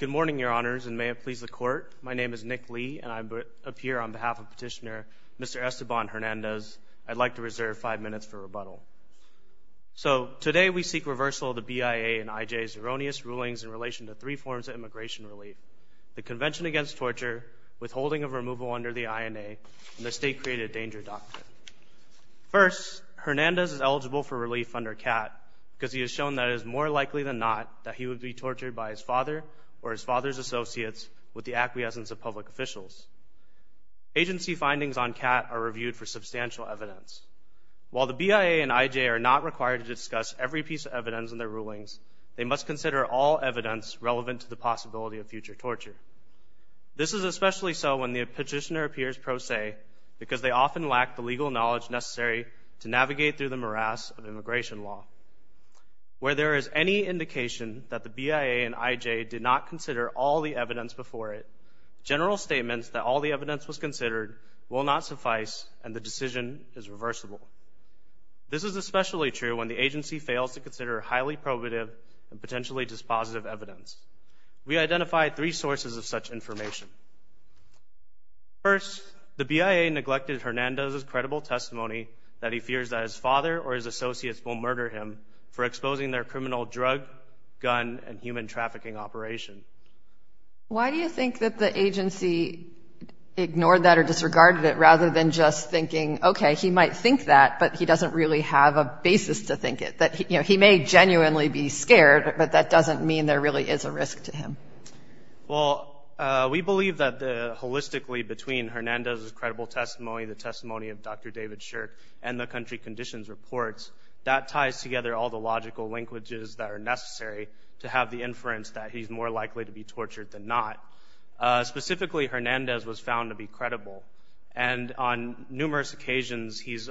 Good morning, your honors, and may it please the court. My name is Nick Lee, and I appear on behalf of petitioner Mr. Esteban Hernandez. I'd like to reserve five minutes for rebuttal. So today we seek reversal of the BIA and IJ's erroneous rulings in relation to three forms of immigration relief, the Convention Against Torture, withholding of removal under the INA, and the State Created Danger Doctrine. First, Hernandez is eligible for relief under CAT because he has shown that it is more likely than not that he would be tortured by his father or his father's associates with the acquiescence of public officials. Agency findings on CAT are reviewed for substantial evidence. While the BIA and IJ are not required to discuss every piece of evidence in their rulings, they must consider all evidence relevant to the possibility of future torture. This is especially so when the petitioner appears pro se because they often lack the legal knowledge necessary to navigate through the morass of immigration law. Where there is any indication that the BIA and IJ did not consider all the evidence before it, general statements that all the evidence was considered will not suffice and the decision is reversible. This is especially true when the agency fails to consider highly probative and potentially dispositive evidence. We identified three sources of such information. First, the BIA neglected Hernandez's credible testimony that he fears that his father or his associates will murder him for exposing their criminal drug, gun and human trafficking operation. Why do you think that the agency ignored that or disregarded it rather than just thinking, okay, he might think that but he doesn't really have a basis to think it? That he may genuinely be scared but that doesn't mean there really is a risk to him. Well, we believe that the holistically between Hernandez's credible testimony, the testimony of Dr. David Shirk and the country conditions reports, that ties together all the logical linkages that are necessary to have the inference that he's more likely to be tortured than not. Specifically, Hernandez was found to be credible and on numerous occasions he's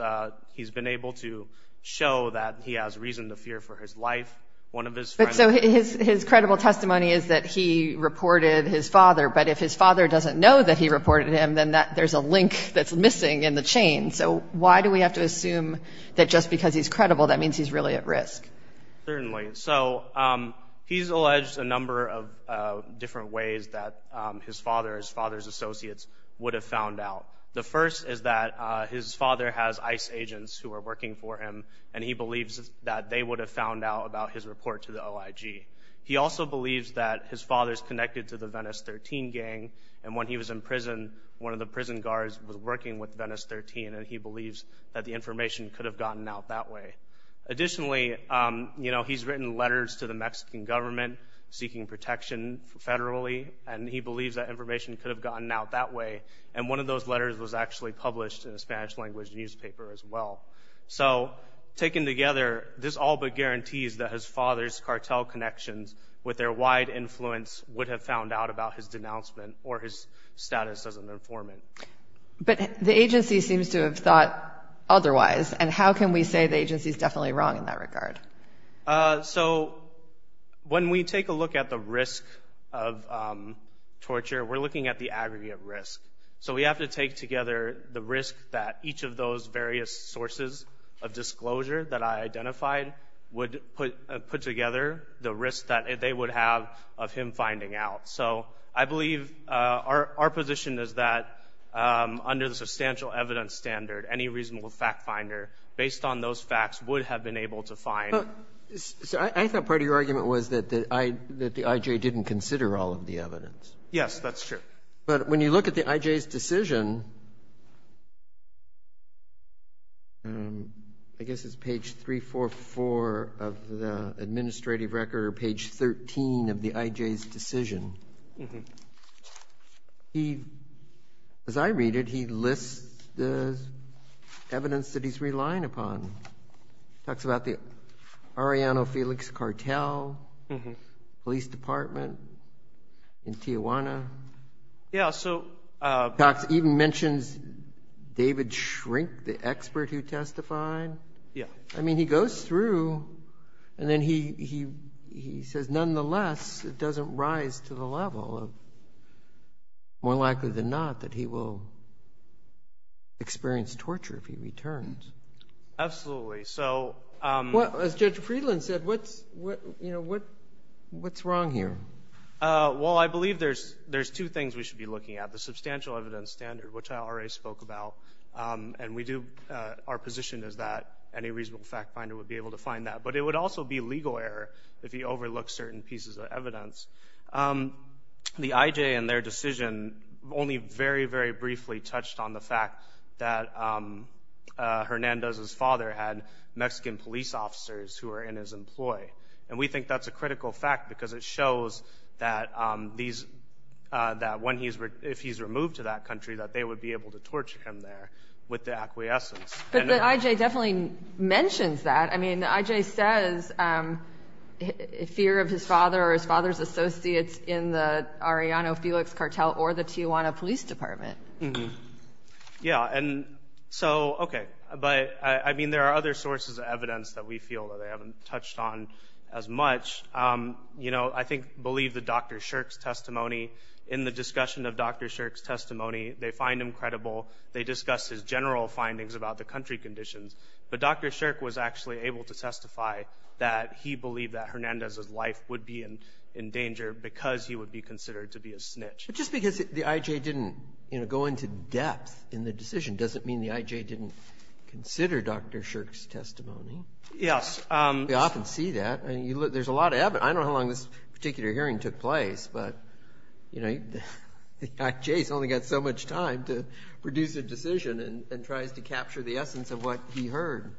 been able to show that he has reason to fear for his life, one of his friends. But so his credible testimony is that he reported his father but if his father doesn't know that he reported him then there's a link that's missing in the chain. So why do we have to assume that just because he's credible that means he's really at risk? Certainly. So he's alleged a number of different ways that his father, his father's associates, would have found out. The first is that his father has ICE agents who are working for him and he believes that they would have found out about his report to the OIG. He also believes that his father's connected to the Venice 13 gang and when he was in prison, one of the prison guards was working with Venice 13 and he believes that the information could have gotten out that way. Additionally, he's written letters to the Mexican government seeking protection federally and he believes that information could have gotten out that way and one of those letters was actually published in a Spanish language newspaper as well. So taken together, this all but guarantees that his father's cartel connections with their wide influence would have found out about his denouncement or his status as an informant. But the agency seems to have thought otherwise and how can we say the agency's definitely wrong in that regard? So when we take a look at the risk of torture, we're looking at the aggregate risk. So we have to take together the risk that each of those various sources of disclosure that I identified would put together the risk that they would have of him finding out. So I believe our position is that under the substantial evidence standard, any reasonable fact finder, based on those facts would have been able to find. So I thought part of your argument was that the IJ didn't consider all of the evidence. Yes, that's true. But when you look at the IJ's decision, I guess it's page 344 of the administrative record or page 13 of the IJ's decision. As I read it, he lists the evidence that he's relying upon. Talks about the Arellano Felix cartel, police department in Tijuana. Yeah, so. Talks, even mentions David Shrink, the expert who testified. Yeah. I mean, he goes through and then he says nonetheless, it doesn't rise to the level of more likely than not that he will experience torture if he returns. Absolutely, so. As Judge Friedland said, what's wrong here? Well, I believe there's two things we should be looking at. The substantial evidence standard, which I already spoke about. And we do, our position is that any reasonable fact finder would be able to find that. But it would also be legal error if he overlooked certain pieces of evidence. The IJ in their decision only very, very briefly touched on the fact that Hernandez's father had Mexican police officers who were in his employ. And we think that's a critical fact because it shows that if he's removed to that country, that they would be able to torture him there with the acquiescence. But the IJ definitely mentions that. I mean, the IJ says fear of his father or his father's associates in the Arellano Felix Cartel or the Tijuana Police Department. Yeah, and so, okay. But I mean, there are other sources of evidence that we feel that they haven't touched on as much. You know, I think, believe that Dr. Shirk's testimony in the discussion of Dr. Shirk's testimony, they find him credible. They discussed his general findings about the country conditions. But Dr. Shirk was actually able to testify that he believed that Hernandez's life would be in danger because he would be considered to be a snitch. Just because the IJ didn't go into depth in the decision doesn't mean the IJ didn't consider Dr. Shirk's testimony. Yes. We often see that. There's a lot of evidence. I don't know how long this particular hearing took place, but, you know, the IJ's only got so much time to produce a decision and tries to capture the essence of what he heard.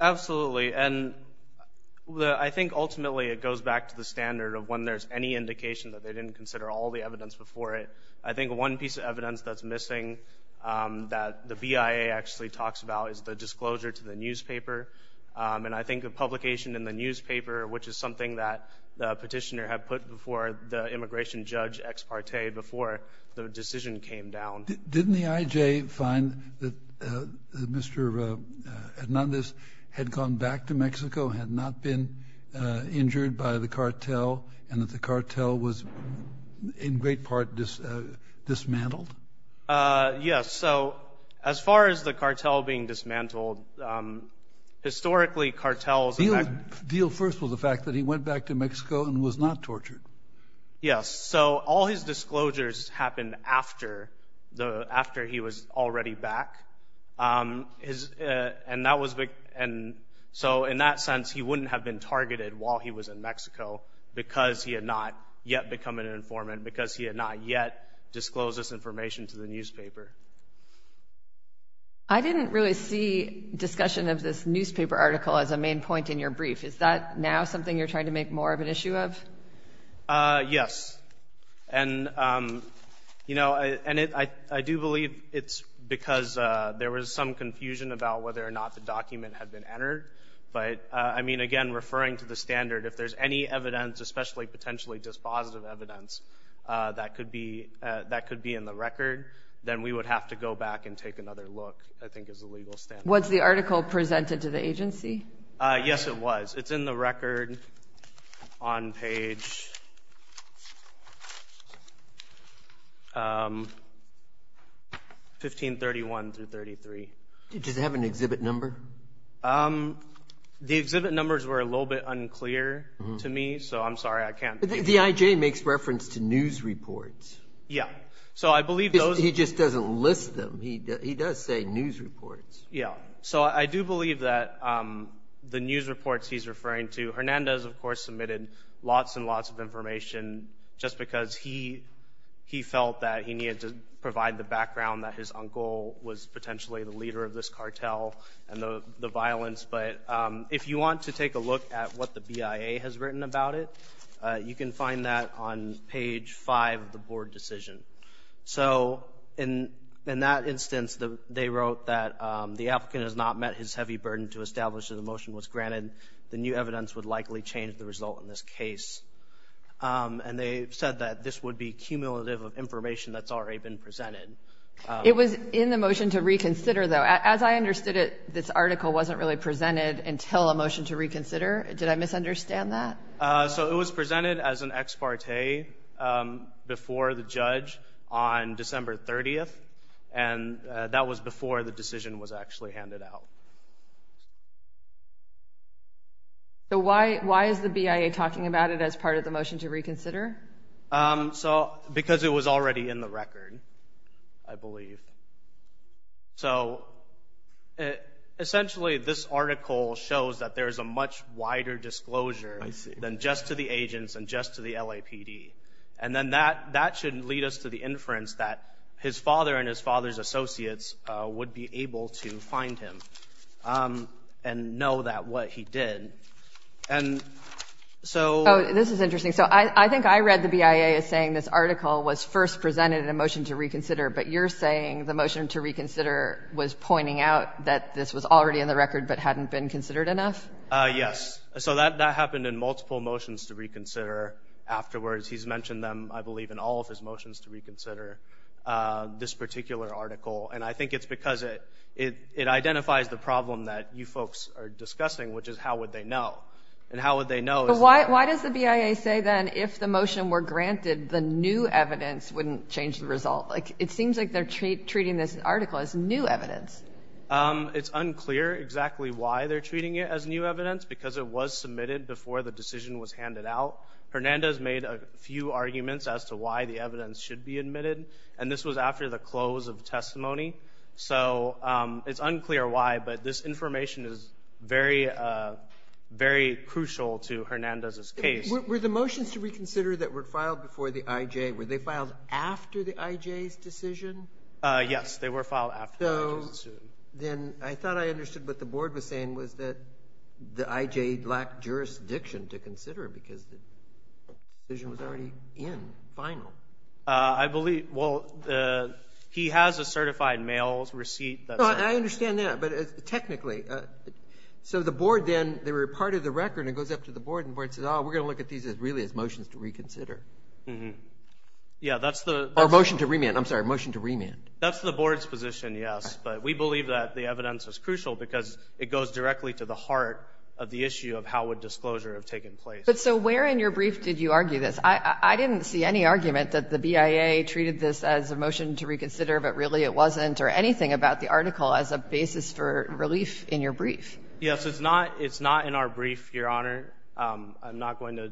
Absolutely. And I think, ultimately, it goes back to the standard of when there's any indication that they didn't consider all the evidence before it. I think one piece of evidence that's missing that the BIA actually talks about is the disclosure to the newspaper. And I think a publication in the newspaper, which is something that the petitioner had put before the immigration judge ex parte before the decision came down. Didn't the IJ find that Mr. Hernandez had gone back to Mexico, had not been injured by the cartel, and that the cartel was in great part dismantled? Yes. So, as far as the cartel being dismantled, historically, cartels have been- The deal first was the fact that he went back to Mexico and was not tortured. Yes. So, all his disclosures happened after he was already back. So, in that sense, he wouldn't have been targeted while he was in Mexico because he had not yet become an informant, because he had not yet disclosed this information to the newspaper. I didn't really see discussion of this newspaper article as a main point in your brief. Is that now something you're trying to make more of an issue of? Yes. And I do believe it's because there was some confusion about whether or not the document had been entered. But, I mean, again, referring to the standard, if there's any evidence, especially potentially just positive evidence, that could be in the record, then we would have to go back and take another look, I think is the legal standard. Was the article presented to the agency? Yes, it was. It's in the record on page 1531 through 33. Does it have an exhibit number? The exhibit numbers were a little bit unclear to me, so I'm sorry, I can't. The IJ makes reference to news reports. Yeah. So, I believe those- He just doesn't list them. He does say news reports. Yeah. So, I do believe that the news reports he's referring to, Hernandez, of course, submitted lots and lots of information just because he felt that he needed to provide the background that his uncle was potentially the leader of this cartel and the violence. But if you want to take a look at what the BIA has written about it, you can find that on page five of the board decision. So, in that instance, they wrote that the applicant has not met his heavy burden to establish that the motion was granted. The new evidence would likely change the result in this case. And they said that this would be cumulative of information that's already been presented. It was in the motion to reconsider, though. As I understood it, this article wasn't really presented until a motion to reconsider. Did I misunderstand that? So, it was presented as an ex parte before the judge on December 30th, and that was before the decision was actually handed out. So, why is the BIA talking about it as part of the motion to reconsider? So, because it was already in the record, I believe. So, essentially, this article shows that there's a much wider disclosure than just to the agents and just to the LAPD. And then that should lead us to the inference that his father and his father's associates would be able to find him and know that what he did. And so... Oh, this is interesting. So, I think I read the BIA as saying this article was first presented in a motion to reconsider, but you're saying the motion to reconsider was pointing out that this was already in the record but hadn't been considered enough? Yes. So, that happened in multiple motions to reconsider. Afterwards, he's mentioned them, I believe, in all of his motions to reconsider this particular article. And I think it's because it identifies the problem that you folks are discussing, which is how would they know? And how would they know is... But why does the BIA say, then, if the motion were granted, the new evidence wouldn't change the result? Like, it seems like they're treating this article as new evidence. It's unclear exactly why they're treating it as new evidence, because it was submitted before the decision was handed out. Hernandez made a few arguments as to why the evidence should be admitted, and this was after the close of testimony. So, it's unclear why, but this information is very, very crucial to Hernandez's case. Were the motions to reconsider that were filed before the IJ, were they filed after the IJ's decision? Yes, they were filed after the IJ's decision. Then, I thought I understood what the board was saying was that the IJ lacked jurisdiction to consider, because the decision was already in, final. I believe, well, he has a certified mail receipt that... No, I understand that, but technically, so the board then, they were part of the record, and it goes up to the board, and the board says, oh, we're gonna look at these as really as motions to reconsider. Yeah, that's the... Or motion to remand, I'm sorry, motion to remand. That's the board's position, yes, but we believe that the evidence is crucial, because it goes directly to the heart of the issue of how would disclosure have taken place. But so, where in your brief did you argue this? I didn't see any argument that the BIA treated this as a motion to reconsider, but really, it wasn't, or anything about the article as a basis for relief in your brief. Yes, it's not in our brief, Your Honor. I'm not going to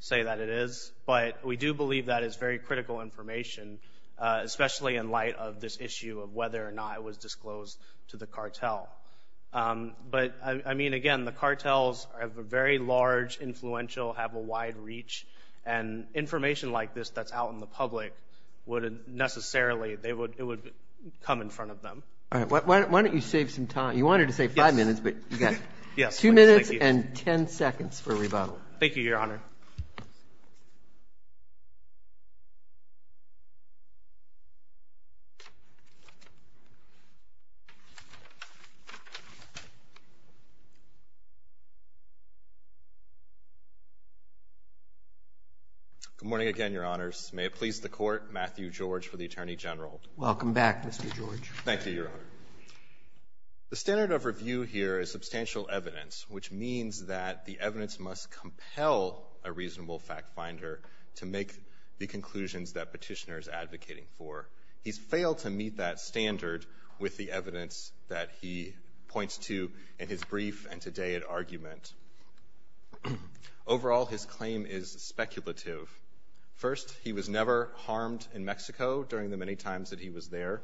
say that it is, but we do believe that it's very critical information, especially in light of this issue of whether or not it was disclosed to the cartel. But, I mean, again, the cartels are very large, influential, have a wide reach, and information like this that's out in the public wouldn't necessarily, it would come in front of them. All right, why don't you save some time? You wanted to save five minutes, but you got two minutes and 10 seconds for rebuttal. Thank you, Your Honor. Good morning again, Your Honors. May it please the Court, Matthew George for the Attorney General. Welcome back, Mr. George. Thank you, Your Honor. The standard of review here is substantial evidence, which means that the evidence must compel a reasonable fact finder to make the conclusions that Petitioner's advocating for. He's failed to meet that standard with the evidence that he points to in his brief and todayed argument. Overall, his claim is speculative. First, he was never harmed in Mexico during the many times that he was there.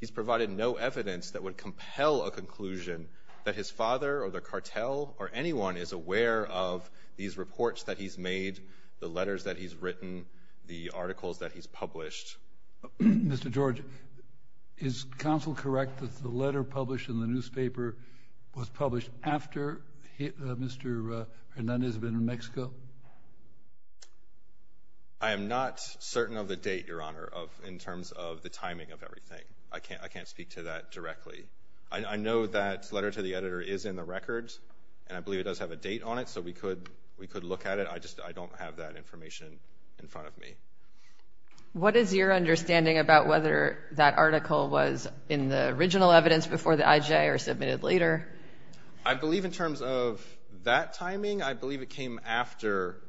He's provided no evidence that would compel a conclusion that his father or the cartel or anyone is aware of these reports that he's made, the letters that he's written, the articles that he's published. Mr. George, is counsel correct that the letter published in the newspaper was published after Mr. Hernandez had been in Mexico? I am not certain of the date, Your Honor, in terms of the timing of everything. I can't speak to that directly. I know that letter to the editor is in the records, and I believe it does have a date on it, so we could look at it. I just don't have that information in front of me. What is your understanding about whether that article was in the original evidence before the IJ or submitted later? I believe in terms of that timing, I believe it came after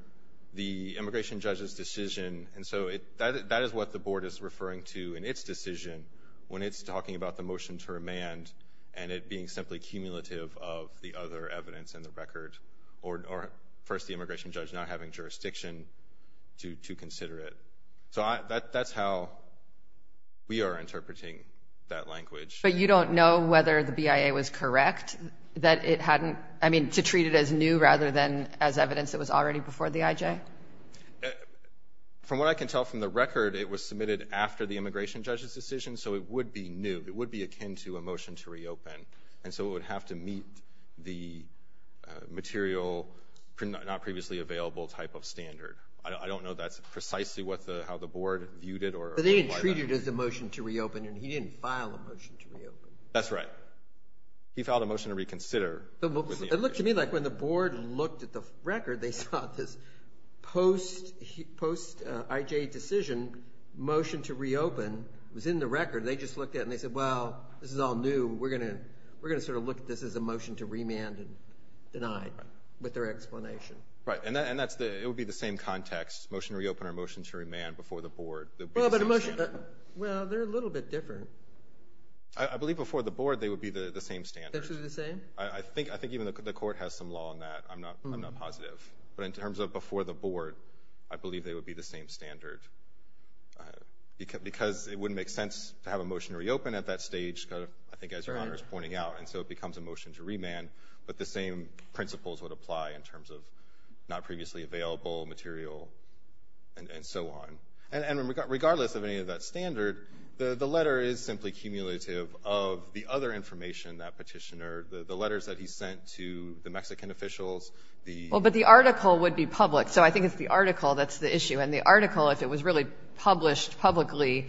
the immigration judge's decision, and so that is what the board is referring to in its decision when it's talking about the motion to remand and it being simply cumulative of the other evidence in the record, or first the immigration judge not having jurisdiction to consider it. So that's how we are interpreting that language. But you don't know whether the BIA was correct that it hadn't, I mean, to treat it as new rather than as evidence that was already before the IJ? From what I can tell from the record, it was submitted after the immigration judge's decision, so it would be new. It would be akin to a motion to reopen, and so it would have to meet the material not previously available type of standard. I don't know that's precisely how the board viewed it, or why that. But they didn't treat it as a motion to reopen, and he didn't file a motion to reopen. That's right. He filed a motion to reconsider. It looked to me like when the board looked at the record, they saw this post-IJ decision motion to reopen was in the record. They just looked at it and they said, well, this is all new. We're gonna sort of look at this as a motion to remand and deny it with their explanation. Right, and it would be the same context, motion to reopen or motion to remand before the board. Well, but a motion, well, they're a little bit different. I believe before the board, they would be the same standard. They would be the same? I think even the court has some law on that. I'm not positive. But in terms of before the board, I believe they would be the same standard because it wouldn't make sense to have a motion to reopen at that stage, I think as Your Honor is pointing out, and so it becomes a motion to remand, but the same principles would apply in terms of not previously available material and so on. And regardless of any of that standard, the letter is simply cumulative of the other information that petitioner, the letters that he sent to the Mexican officials, the- Well, but the article would be public. So I think it's the article that's the issue. And the article, if it was really published publicly,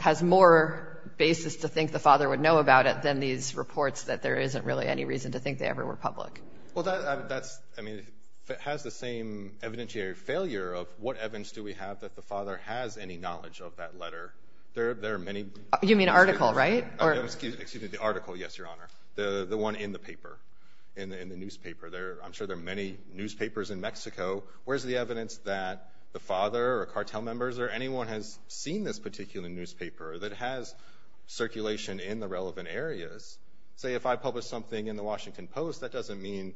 has more basis to think the father would know about it than these reports that there isn't really any reason to think they ever were public. Well, that's, I mean, it has the same evidentiary failure of what evidence do we have that the father has any knowledge of that letter? There are many- You mean article, right? Oh, excuse me, the article, yes, Your Honor. The one in the paper, in the newspaper. I'm sure there are many newspapers in Mexico. Where's the evidence that the father or cartel members or anyone has seen this particular newspaper that has circulation in the relevant areas? Say if I publish something in the Washington Post, that doesn't mean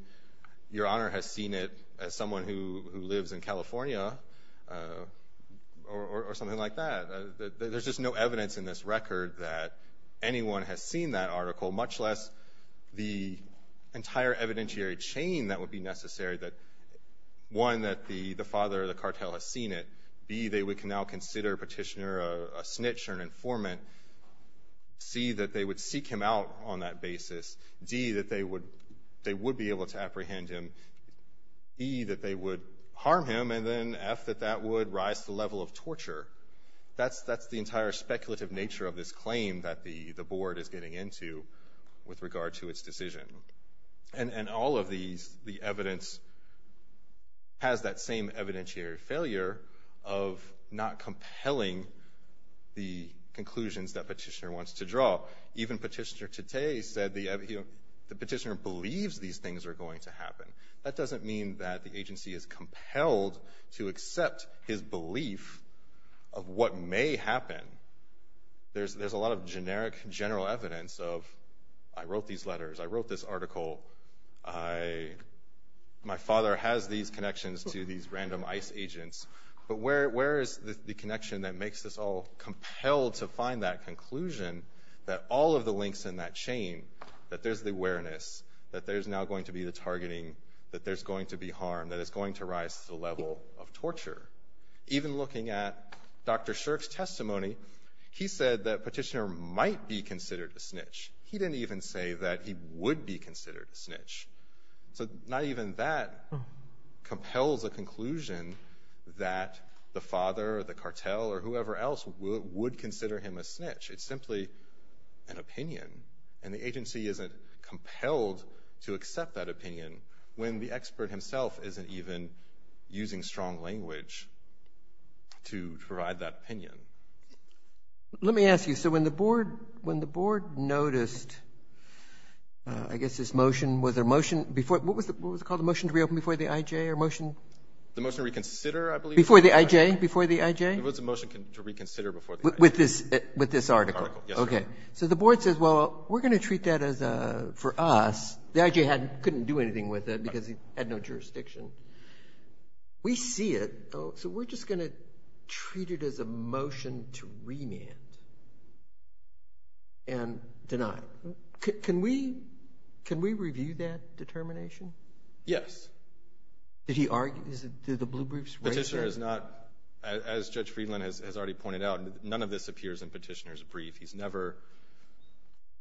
Your Honor has seen it as someone who lives in California or something like that. There's just no evidence in this record that anyone has seen that article, much less the entire evidentiary chain that would be necessary that, one, that the father or the cartel has seen it. B, they would now consider Petitioner a snitch or an informant. C, that they would seek him out on that basis. D, that they would be able to apprehend him. E, that they would harm him. And then F, that that would rise to the level of torture. That's the entire speculative nature of this claim that the Board is getting into with regard to its decision. And all of the evidence has that same evidentiary failure of not compelling the conclusions that Petitioner wants to draw. Even Petitioner today said the Petitioner believes these things are going to happen. That doesn't mean that the agency is compelled to accept his belief of what may happen. There's a lot of generic, general evidence of, I wrote these letters, I wrote this article, my father has these connections to these random ICE agents, but where is the connection that makes us all compelled to find that conclusion, that all of the links in that chain, that there's the awareness, that there's now going to be the targeting, that there's going to be harm, that it's going to rise to the level of torture. Even looking at Dr. Shirk's testimony, he said that Petitioner might be considered a snitch. He didn't even say that he would be considered a snitch. So not even that compels a conclusion that the father or the cartel or whoever else would consider him a snitch. It's simply an opinion, and the agency isn't compelled to accept that opinion when the expert himself isn't even using strong language to provide that opinion. Let me ask you, so when the board noticed, I guess this motion, was there a motion before, what was it called, the motion to reopen before the IJ, or motion? The motion to reconsider, I believe. Before the IJ, before the IJ? It was a motion to reconsider before the IJ. With this article? Yes, sir. Okay, so the board says, well, we're going to treat that as a, for us, the IJ couldn't do anything with it because it had no jurisdiction. We see it, so we're just going to treat it as a motion to remand and deny. Yes. Did he argue, did the blue briefs raise that? The petitioner is not, as Judge Friedland has already pointed out, none of this appears in petitioner's brief. He's never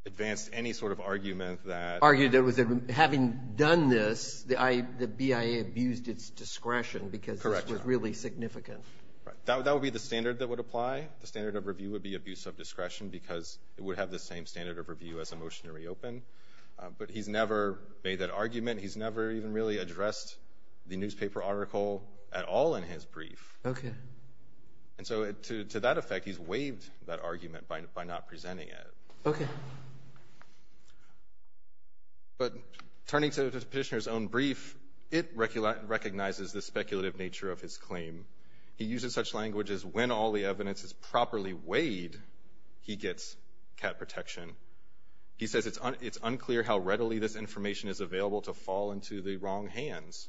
advanced any sort of argument that. Argued that having done this, the BIA abused its discretion because this was really significant. Right, that would be the standard that would apply. The standard of review would be abuse of discretion because it would have the same standard of review as a motion to reopen, but he's never made that argument. He's never even really addressed the newspaper article at all in his brief. Okay. And so to that effect, he's waived that argument by not presenting it. Okay. But turning to the petitioner's own brief, it recognizes the speculative nature of his claim. He uses such language as when all the evidence is properly weighed, he gets cat protection. He says it's unclear how readily this information is available to fall into the wrong hands.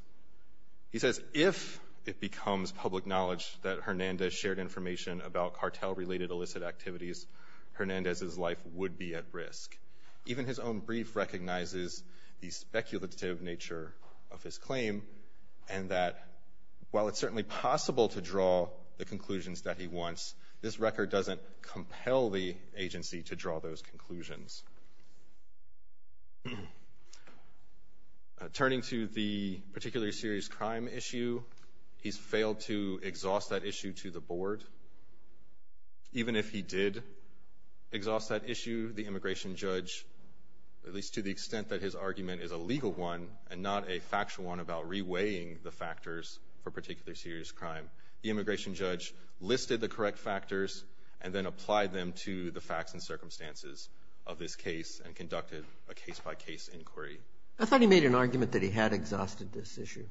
He says if it becomes public knowledge that Hernandez shared information about cartel-related illicit activities, Hernandez's life would be at risk. Even his own brief recognizes the speculative nature of his claim and that while it's certainly possible to draw the conclusions that he wants, this record doesn't compel the agency to draw those conclusions. Turning to the particularly serious crime issue, he's failed to exhaust that issue to the board. Even if he did exhaust that issue, the immigration judge, at least to the extent that his argument is a legal one and not a factual one about reweighing the factors for particularly serious crime, the immigration judge listed the correct factors and then applied them to the facts and circumstances of the case. Of this case and conducted a case-by-case inquiry. I thought he made an argument that he had exhausted this issue.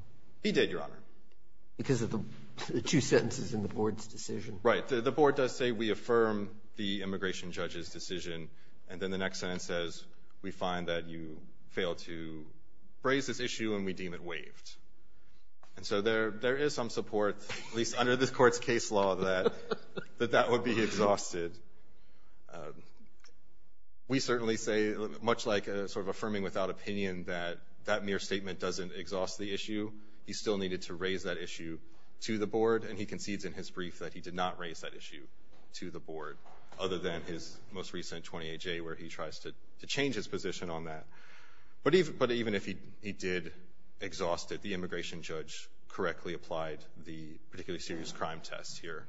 He did, Your Honor. Because of the two sentences in the board's decision. Right, the board does say we affirm the immigration judge's decision and then the next sentence says, we find that you failed to raise this issue and we deem it waived. And so there is some support, at least under this court's case law, that that would be exhausted. We certainly say, much like sort of affirming without opinion that that mere statement doesn't exhaust the issue, he still needed to raise that issue to the board and he concedes in his brief that he did not raise that issue to the board, other than his most recent 20-AJ where he tries to change his position on that. But even if he did exhaust it, the immigration judge correctly applied the particularly serious crime test here.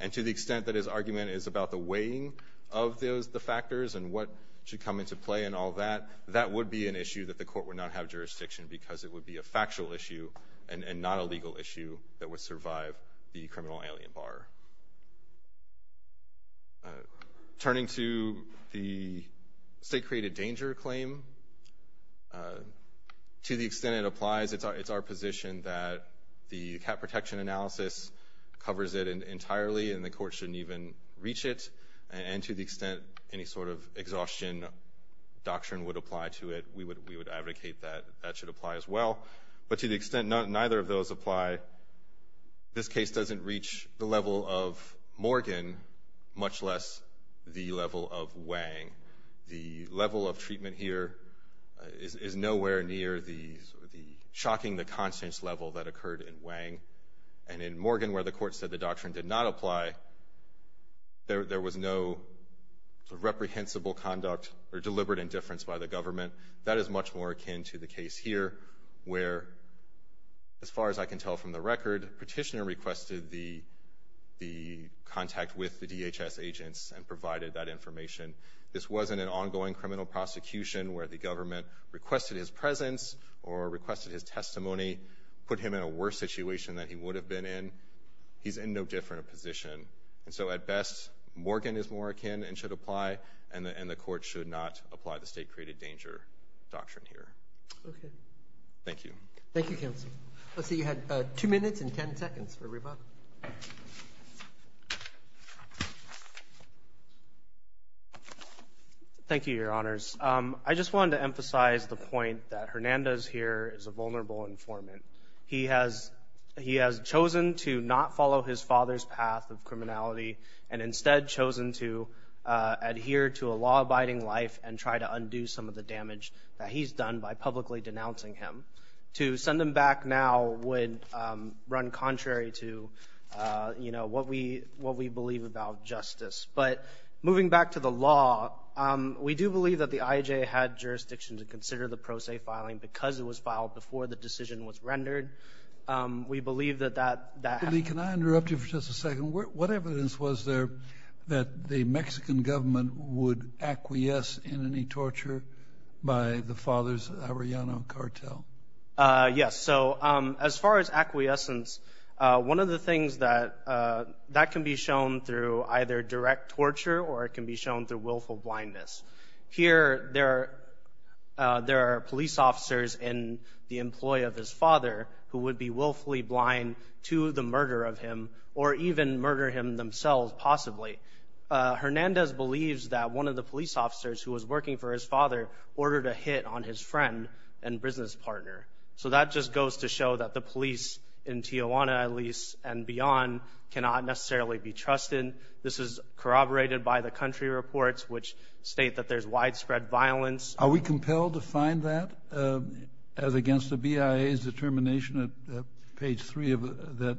And to the extent that his argument is about the weighing of the factors and what should come into play and all that, that would be an issue that the court would not have jurisdiction because it would be a factual issue and not a legal issue that would survive the criminal alien bar. Turning to the state-created danger claim, to the extent it applies, it's our position that the cap protection analysis covers it entirely and the court shouldn't even reach it. And to the extent any sort of exhaustion doctrine would apply to it, we would advocate that that should apply as well. But to the extent neither of those apply, this case doesn't reach the level of Morgan, much less the level of Wang. The level of treatment here is nowhere near the shocking the constants level that occurred in Wang. And in Morgan where the court said the doctrine did not apply, there was no reprehensible conduct or deliberate indifference by the government. That is much more akin to the case here where as far as I can tell from the record, petitioner requested the contact with the DHS agents and provided that information. This wasn't an ongoing criminal prosecution where the government requested his presence or requested his testimony, put him in a worse situation than he would have been in. He's in no different position. And so at best, Morgan is more akin and should apply and the court should not apply the state created danger doctrine here. Okay. Thank you. Thank you, counsel. Let's see, you had two minutes and 10 seconds for rebuttal. Thank you, your honors. I just wanted to emphasize the point that Hernandez here is a vulnerable informant. He has chosen to not follow his father's path of criminality and instead chosen to adhere to a law abiding life and try to undo some of the damage that he's done by publicly denouncing him. To send him back now would run contrary to what we believe about justice. But moving back to the law, we do believe that the IJ had jurisdiction to consider the pro se filing because it was filed before the decision was rendered. We believe that that- Can I interrupt you for just a second? What evidence was there that the Mexican government would acquiesce in any torture by the father's Arellano cartel? Yes. So as far as acquiescence, one of the things that can be shown through either direct torture or it can be shown through willful blindness. Here there are police officers in the employ of his father who would be willfully blind to the murder of him or even murder him themselves possibly. Hernandez believes that one of the police officers who was working for his father ordered a hit on his friend and business partner. So that just goes to show that the police in Tijuana at least and beyond cannot necessarily be trusted. This is corroborated by the country reports which state that there's widespread violence. Are we compelled to find that as against the BIA's determination at page three that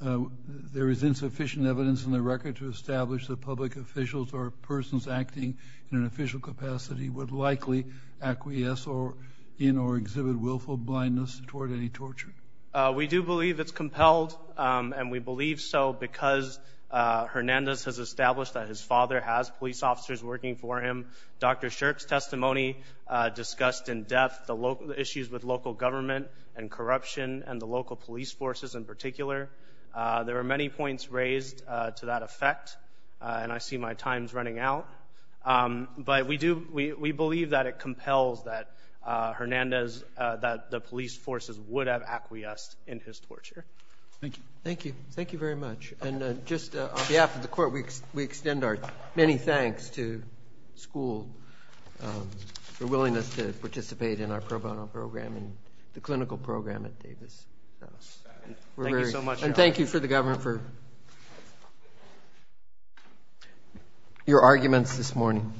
there is insufficient evidence in the record to establish that public officials or persons acting in an official capacity would likely acquiesce in or exhibit willful blindness toward any torture? We do believe it's compelled and we believe so because Hernandez has established that his father has police officers working for him. Dr. Shirk's testimony discussed in depth the local issues with local government and corruption and the local police forces in particular. There are many points raised to that effect and I see my time's running out. But we believe that it compels that Hernandez, that the police forces would have acquiesced in his torture. Thank you. Thank you. Thank you very much. And just on behalf of the court, we extend our many thanks to school for willingness to participate in our pro bono program and the clinical program at Davis. Thank you so much. And thank you for the government for your arguments this morning.